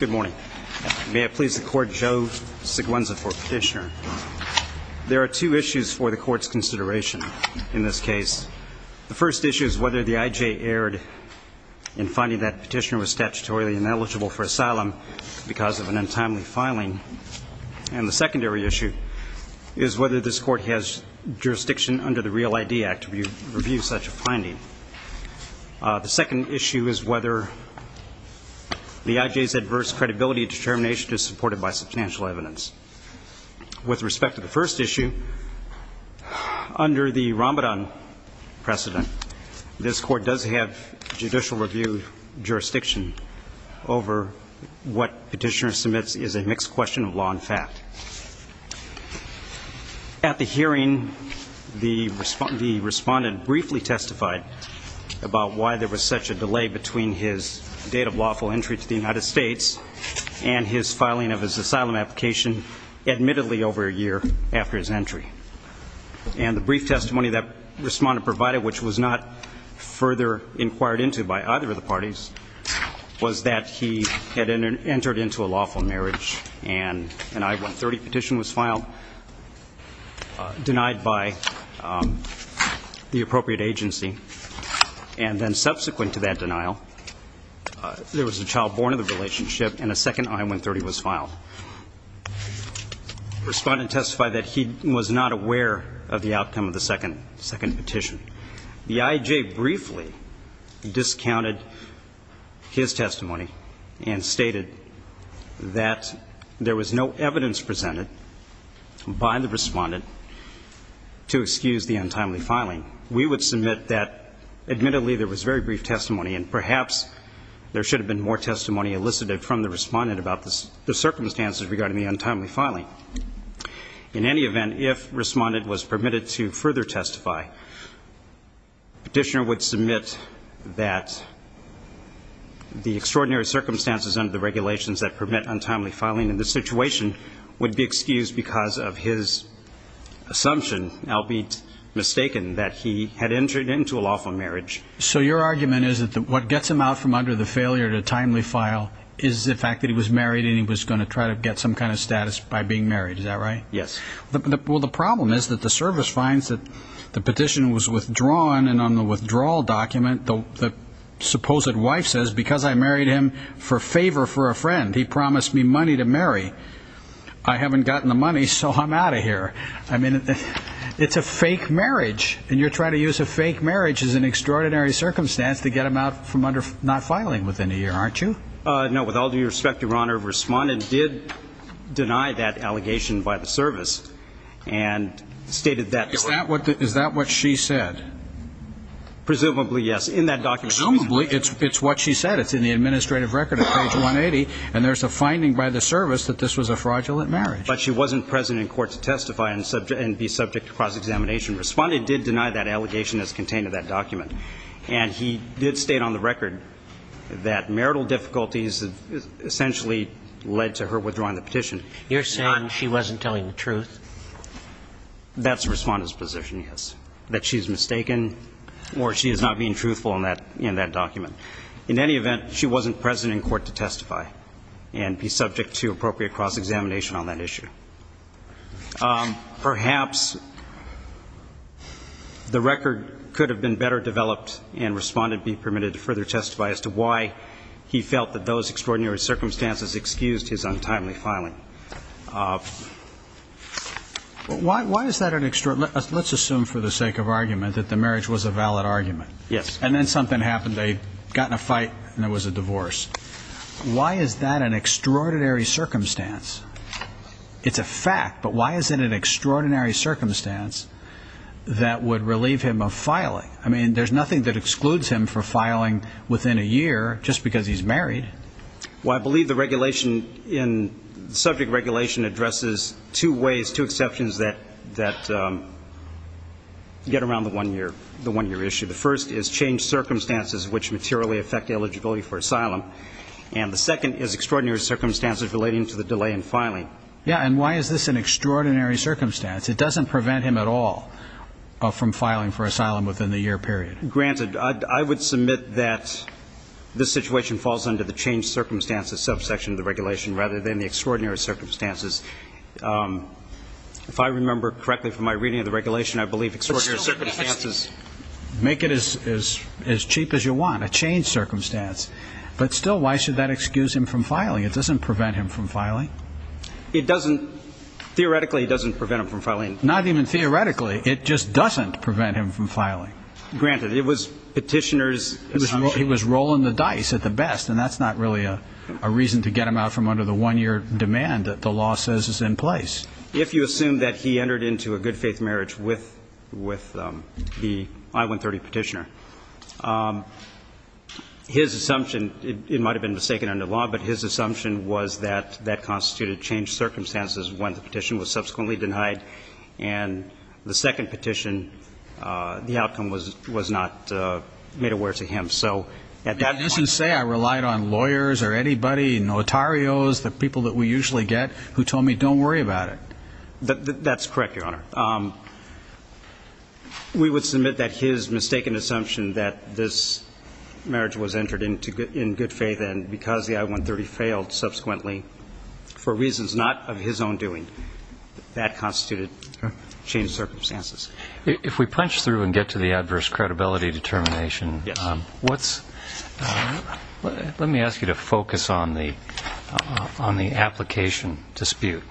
Good morning. May it please the court, Joe Siguenza for petitioner. There are two issues for the court's consideration in this case. The first issue is whether the IJ erred in finding that petitioner was statutorily ineligible for asylum because of an untimely filing. And the secondary issue is whether this court has jurisdiction under the Real ID Act to assess credibility and determination to support it by substantial evidence. With respect to the first issue, under the Ramadan precedent, this court does have judicial review jurisdiction over what petitioner submits is a mixed question of law and fact. At the hearing, the respondent briefly testified about why there was such a delay between his date of lawful entry to the United States and his filing of his asylum application admittedly over a year after his entry. And the brief testimony that respondent provided, which was not further inquired into by either of the parties, was that he had entered into a lawful marriage and an I-130 petition was filed, denied by the appropriate agency. And then subsequent to that denial, there was a child born in the relationship and a second I-130 was filed. The respondent testified that he was not aware of the outcome of the second petition. The IJ briefly discounted his testimony and stated that there was no evidence presented by the respondent to excuse the untimely filing. We would submit that admittedly there was very brief testimony and perhaps there should have been more testimony elicited from the respondent about the circumstances regarding the untimely filing. In any event, if respondent was permitted to further testify, petitioner would submit that the extraordinary circumstances under the regulations that permit untimely filing in this situation would be So your argument is that what gets him out from under the failure to timely file is the fact that he was married and he was going to try to get some kind of status by being married. Is that right? Yes. Well, the problem is that the service finds that the petition was withdrawn. And on the withdrawal document, the supposed wife says, because I married him for favor for a friend, he promised me money to marry. I haven't gotten the money, so I'm out of here. I mean, it's a fake marriage. And you're trying to use a fake marriage as an extraordinary circumstance to get him out from under not filing within a year, aren't you? No. With all due respect, Your Honor, respondent did deny that allegation by the service and stated that. Is that what is that what she said? Presumably, yes. In that document, presumably it's it's what she said. It's in the administrative record at page 180. And there's a finding by the service that this was a fraudulent marriage. But she wasn't present in court to testify and subject and be subject to cross-examination. Respondent did deny that allegation as contained in that document. And he did state on the record that marital difficulties essentially led to her withdrawing the petition. You're saying she wasn't telling the truth? That's the respondent's position, yes, that she's mistaken or she is not being truthful in that in that document. In any event, she wasn't present in court to testify and be subject to appropriate cross-examination on that issue. Perhaps the record could have been better developed and respondent be permitted to further testify as to why he felt that those extraordinary circumstances excused his untimely filing. Why is that an extraordinary? Let's assume for the sake of argument that the marriage was a valid argument. Yes. And then something happened. They got in a fight and there was a divorce. Why is that an extraordinary circumstance? It's a fact. But why is it an extraordinary circumstance that would relieve him of filing? I mean, there's nothing that excludes him for filing within a year just because he's married. Well, I believe the regulation in subject regulation addresses two ways, two exceptions that that get around the one year issue. The first is change circumstances which materially affect eligibility for a asylum. And the second is extraordinary circumstances relating to the delay in filing. Yeah. And why is this an extraordinary circumstance? It doesn't prevent him at all from filing for asylum within the year period. Granted, I would submit that this situation falls under the change circumstances subsection of the regulation rather than the extraordinary circumstances. If I remember correctly from my reading of the regulation, I believe extraordinary circumstances make it as cheap as you want, a change circumstance. But still, why should that excuse him from filing? It doesn't prevent him from filing. It doesn't. Theoretically, it doesn't prevent him from filing. Not even theoretically. It just doesn't prevent him from filing. Granted, it was petitioners. He was rolling the dice at the best. And that's not really a reason to get him out from under the one year demand that the law says is in place. If you assume that he entered into a good faith marriage with the I-130 petitioner, his assumption, it might have been mistaken under law, but his assumption was that that constituted change circumstances when the petition was subsequently denied. And the second petition, the outcome was not made aware to him. So at that point... You didn't say I relied on lawyers or anybody, notarios, the people that we usually get, who told me don't worry about it. That's correct, Your Honor. We would submit that his mistaken assumption that this marriage was entered into in good faith and because the I-130 failed subsequently for reasons not of his own doing, that constituted change circumstances. If we punch through and get to the adverse credibility determination, let me ask you to focus on the application dispute.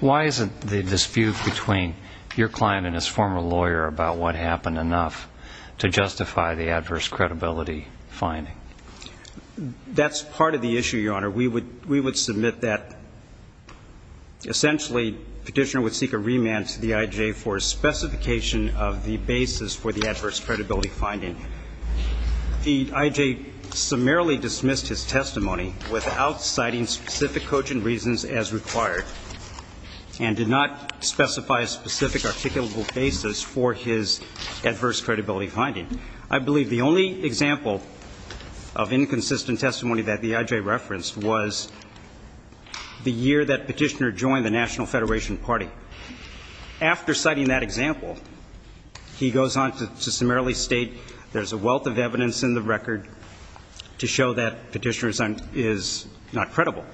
Why isn't the dispute between your client and his former lawyer about what happened enough to justify the adverse credibility finding? That's part of the issue, Your Honor. We would submit that essentially petitioner would seek a remand to the IJ for specification of the basis for the adverse credibility finding. The IJ summarily dismissed his testimony without citing specific cogent reasons as required and did not specify a specific articulable basis for his adverse credibility finding. I believe the only example of inconsistent testimony that the IJ referenced was the year that petitioner joined the National Federation Party. After citing that example, he goes on to summarily state there's a wealth of evidence in the record to show that petitioner is not credible.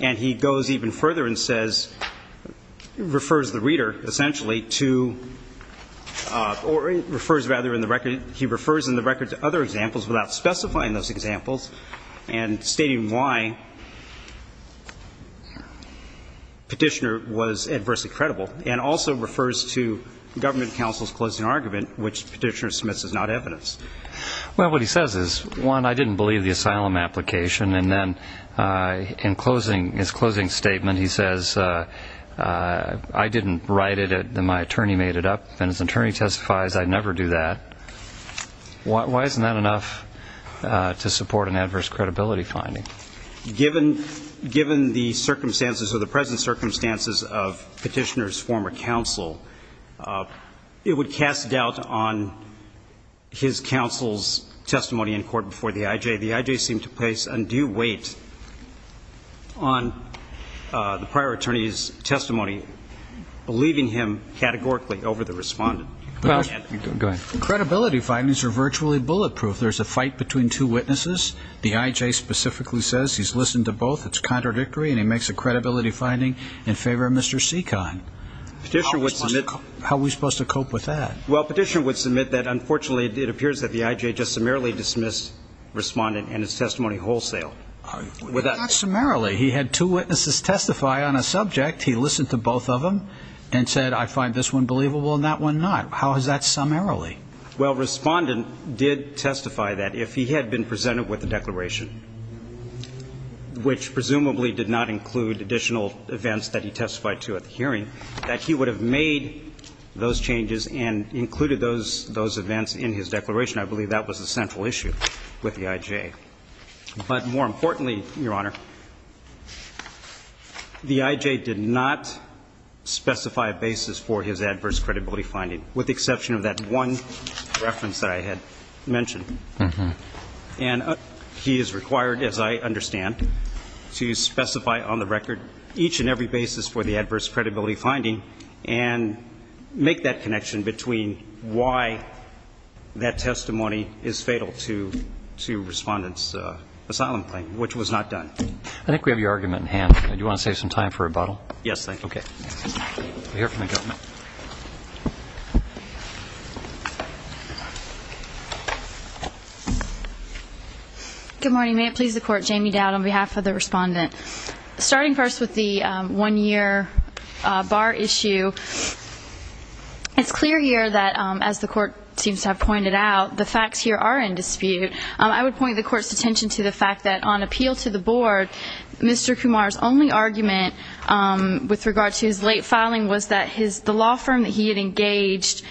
And he goes even further and says, refers the reader essentially to, or refers rather in the record, he refers in the record to other examples without specifying those examples and stating why petitioner was adversely credible and also refers to government counsel's closing argument, which petitioner submits is not evidence. Well, what he says is, one, I didn't believe the asylum application, and then in his closing statement he says, I didn't write it, my attorney made it up, and his attorney testifies I'd never do that. Why isn't that enough to support an adverse credibility finding? Given the circumstances or the present circumstances of petitioner's former counsel, it would cast doubt on his counsel's testimony in court before the IJ. The IJ seemed to place undue weight on the prior attorney's testimony, believing him categorically over the respondent. Go ahead. Credibility findings are virtually bulletproof. There's a fight between two witnesses, the IJ says he's listened to both, it's contradictory, and he makes a credibility finding in favor of Mr. Seekon. Petitioner would submit How are we supposed to cope with that? Well, petitioner would submit that unfortunately it appears that the IJ just summarily dismissed respondent and his testimony wholesale. Not summarily. He had two witnesses testify on a subject, he listened to both of them, and said, I find this one believable and that one not. How is that summarily? Well, respondent did testify that if he had been presented with a declaration, which presumably did not include additional events that he testified to at the hearing, that he would have made those changes and included those events in his declaration. I believe that was the central issue with the IJ. But more importantly, Your Honor, the IJ did not specify a basis for his adverse credibility finding, with the exception of that one reference that I had mentioned. And he is required, as I understand, to specify on the record each and every basis for the adverse credibility finding and make that connection between why that testimony is fatal to respondent's asylum claim, which was not done. I think we have your argument in hand. Do you want to save some time for rebuttal? Yes, thank you. Okay. We'll hear from the government. Good morning. May it please the Court, Jamie Dowd on behalf of the respondent. Starting first with the one-year bar issue, it's clear here that, as the Court seems to have pointed out, the facts here are in dispute. I would point the Court's attention to the fact that on appeal to the Board, Mr. Kumar's only argument with regard to his late filing was that the law firm that he had engaged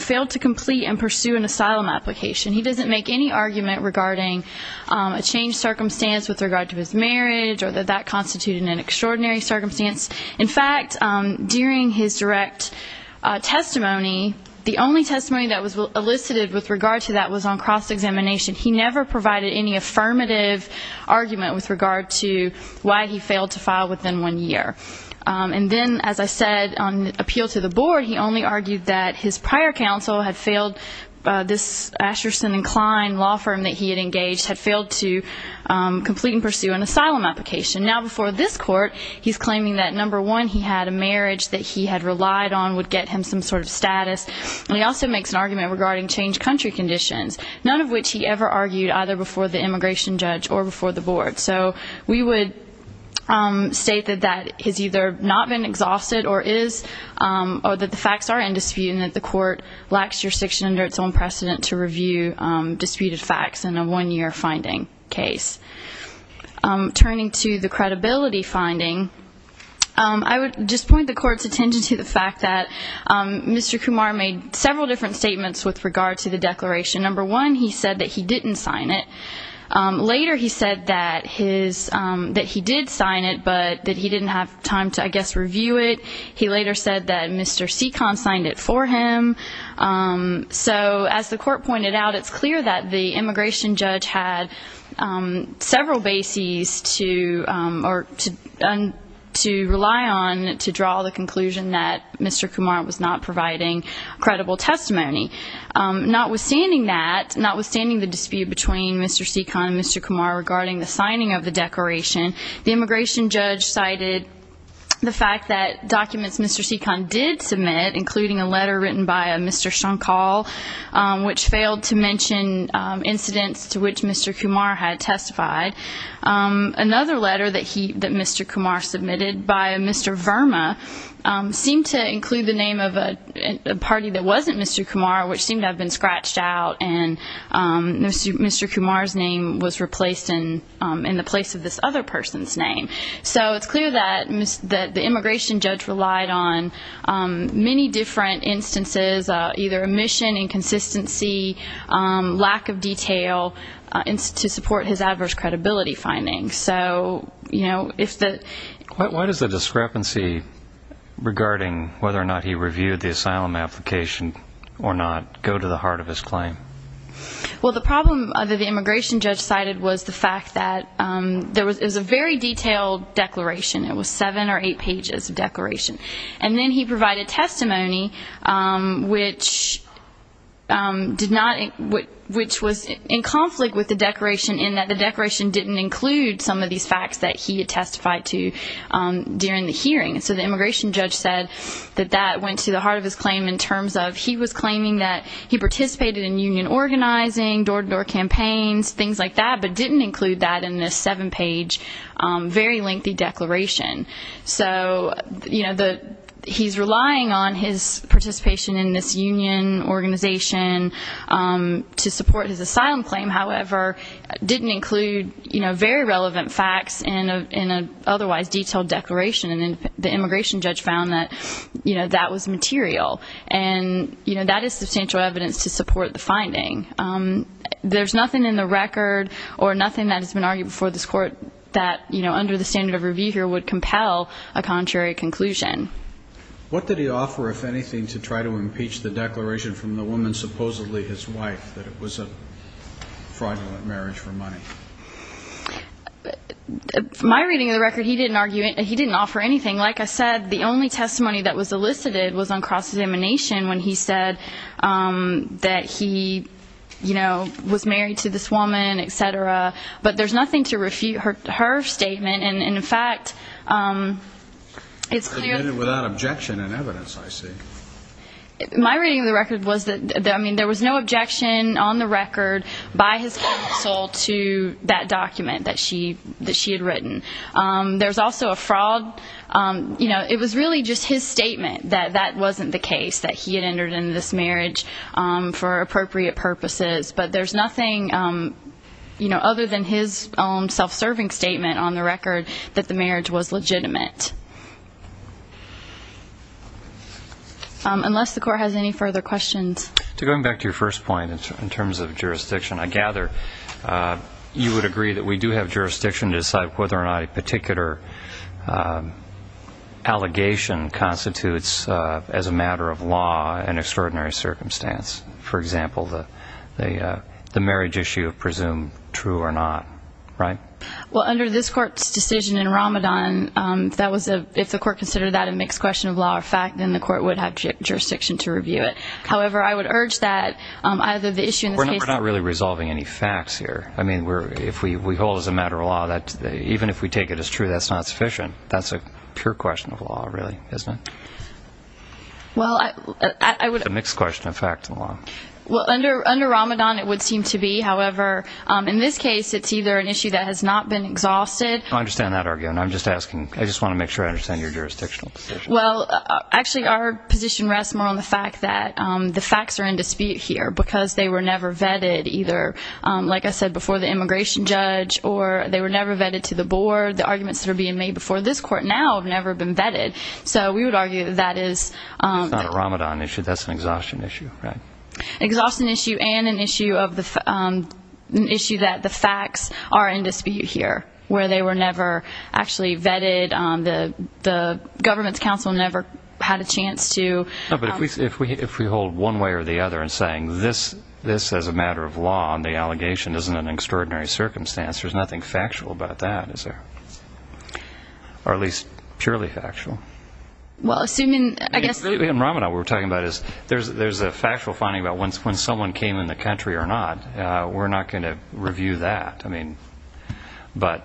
failed to complete and pursue an asylum application. He doesn't make any argument regarding a changed circumstance with regard to his marriage or that that constituted an extraordinary circumstance. In fact, during his direct testimony, the only testimony that was elicited with regard to that was on cross-examination. He never provided any affirmative argument with regard to why he failed to file within one year. And then, as I said, on appeal to the Board, he only argued that his prior counsel had failed, this Asherson & Kline law firm that he had engaged, had failed to complete and pursue an asylum application. Now, before this Court, he's claiming that, number one, he had a marriage that he had relied on, would get him some sort of status, and he also makes an argument regarding changed country conditions, none of which he ever argued either before the immigration judge or before the Board. So we would state that that has either not been exhausted or is, or that the facts are in dispute and that the Court lacks jurisdiction under its own precedent to review disputed facts in a one-year finding case. Turning to the credibility finding, I would just point the Court's attention to the fact that number one, he said that he didn't sign it. Later, he said that he did sign it, but that he didn't have time to, I guess, review it. He later said that Mr. Seekon signed it for him. So as the Court pointed out, it's clear that the immigration judge had several bases to rely on to draw the conclusion that Mr. Kumar was not providing credible testimony. Notwithstanding that, notwithstanding the dispute between Mr. Seekon and Mr. Kumar regarding the signing of the declaration, the immigration judge cited the fact that documents Mr. Seekon did submit, including a letter written by Mr. Shankal, which failed to mention incidents to which Mr. Kumar had testified. Another letter that Mr. Kumar submitted by Mr. Verma seemed to include the name of a party that wasn't Mr. Kumar, which seemed to have been scratched out, and Mr. Kumar's name was replaced in the place of this other person's name. So it's clear that the immigration judge relied on many different instances, either omission, inconsistency, lack of detail, to support his adverse credibility findings. So, you know, if the... Why does the discrepancy regarding whether or not he reviewed the asylum application or not go to the heart of his claim? Well, the problem that the immigration judge cited was the fact that there was a very detailed declaration. It was seven or eight pages of declaration. And then he provided testimony which did not, which was in conflict with the declaration in that the declaration didn't include some of these facts that he had testified to during the hearing. So the immigration judge said that that went to the heart of his claim in terms of he was claiming that he participated in union organizing, door-to-door campaigns, things like that, but didn't include that in this seven-page, very lengthy declaration. So, you know, he's relying on his participation in this union organization to support his asylum claim. However, didn't include, you know, very relevant facts in an otherwise detailed declaration. And then the immigration judge found that, you know, that was material. And, you know, that is substantial evidence to support the finding. There's nothing in the record or nothing that has been argued before this Court that, you know, under the standard of review here would compel a contrary conclusion. What did he offer, if anything, to try to impeach the declaration from the woman supposedly his wife, that it was a fraudulent marriage for money? My reading of the record, he didn't offer anything. Like I said, the only testimony that was elicited was on cross-examination when he said that he, you know, was married to this woman, et cetera. But there's nothing to refute her statement. And, in fact, it's clear that... I read it without objection and evidence, I see. My reading of the record was that, I mean, there was no objection on the record by his counsel to that document that she had written. There's also a fraud. You know, it was really just his statement that that wasn't the case, that he had entered into this marriage for appropriate purposes. But there's nothing, you know, other than his own self-serving statement on the record that the marriage was legitimate. Unless the Court has any further questions. Going back to your first point in terms of jurisdiction, I gather you would agree that we do have jurisdiction to decide whether or not a particular allegation constitutes as a matter of law an extraordinary circumstance. For example, the marriage issue of presume true or not, right? Well, under this Court's decision in Ramadan, if the Court considered that a mixed question of law or fact, then the Court would have jurisdiction to review it. However, I would urge that either the issue in this case... We're not really resolving any facts here. I mean, if we hold it as a matter of law, even if we take it as true, that's not sufficient. That's a pure question of law, really, isn't it? It's a mixed question of fact and law. Well, under Ramadan, it would seem to be. However, in this case, it's either an issue that has not been exhausted... I understand that argument. I'm just asking. I just want to make sure I understand your jurisdictional position. Well, actually, our position rests more on the fact that the facts are in dispute here because they were never vetted either, like I said, before the immigration judge or they were never vetted to the board. The arguments that are being made before this Court now have never been vetted. It's not a Ramadan issue. That's an exhaustion issue, right? Exhaustion issue and an issue that the facts are in dispute here, where they were never actually vetted. The government's counsel never had a chance to... No, but if we hold one way or the other in saying this as a matter of law and the allegation isn't an extraordinary circumstance, there's nothing factual about that, is there? Or at least purely factual. In Ramadan, what we're talking about is there's a factual finding about when someone came in the country or not. We're not going to review that. But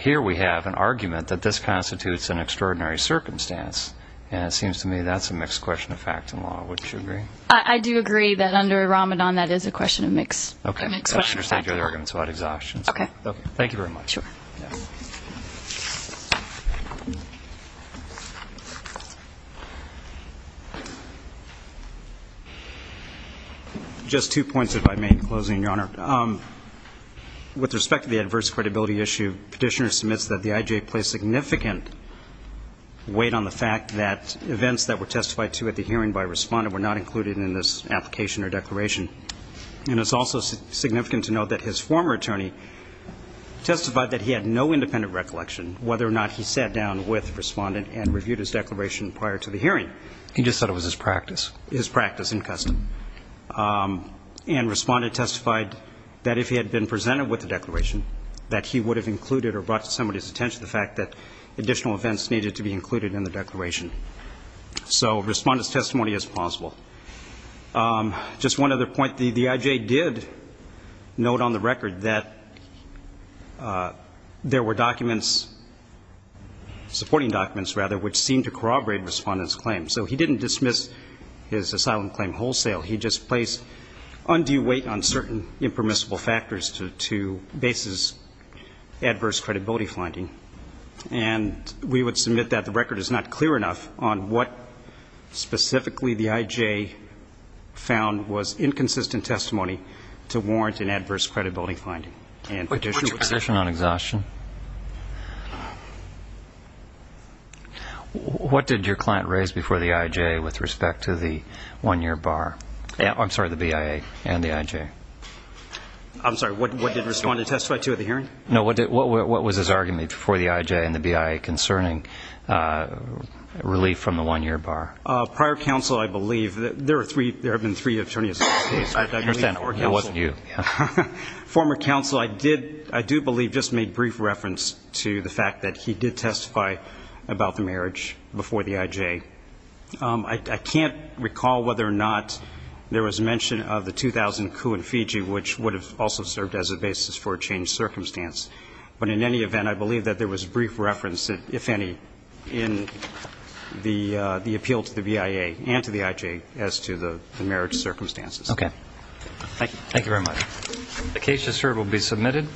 here we have an argument that this constitutes an extraordinary circumstance, and it seems to me that's a mixed question of fact and law. Would you agree? I do agree that under Ramadan that is a mixed question of fact and law. Okay. Thank you very much. Just two points, if I may, in closing, Your Honor. With respect to the adverse credibility issue, Petitioner submits that the IJA placed significant weight on the fact that events that were testified to at the hearing by a respondent were not included in this application or declaration. And it's also significant to note that his former attorney testified that he had no independent recollection whether or not he sat down with the respondent and reviewed his declaration prior to the hearing. He just said it was his practice. His practice and custom. And the respondent testified that if he had been presented with the declaration, that he would have included or brought to somebody's attention the fact that additional events needed to be included in the declaration. So respondent's testimony is plausible. Just one other point, the IJA did note on the record that there were documents, supporting documents, rather, which seemed to corroborate the respondent's claim. So he didn't dismiss his asylum claim wholesale. He just placed undue weight on certain impermissible factors to base his adverse credibility finding. And we would submit that the record is not clear enough on what specifically the IJA found was inconsistent testimony to warrant an adverse credibility finding. What did your client raise before the IJA with respect to the one-year bar? I'm sorry, the BIA and the IJA. I'm sorry, what did respondent testify to at the hearing? No, what was his argument before the IJA and the BIA concerning relief from the one-year bar? Prior counsel, I believe, there have been three attorneys in this case. I understand, it wasn't you. Former counsel, I do believe, just made brief reference to the fact that he did testify about the marriage before the IJA. I can't recall whether or not there was mention of the 2000 coup in Fiji, which would have also served as a basis for a changed circumstance. But in any event, I believe that there was brief reference, if any, in the appeal to the BIA and to the IJA as to the marriage circumstances. Okay. Thank you very much. The case just heard will be submitted.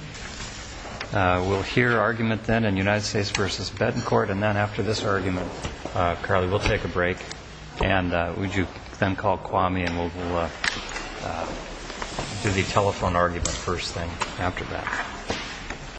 We'll hear argument then in United States v. Betancourt, and then after this argument, Carly, we'll take a break. And would you then call Kwame, and we'll do the telephone argument first thing after that.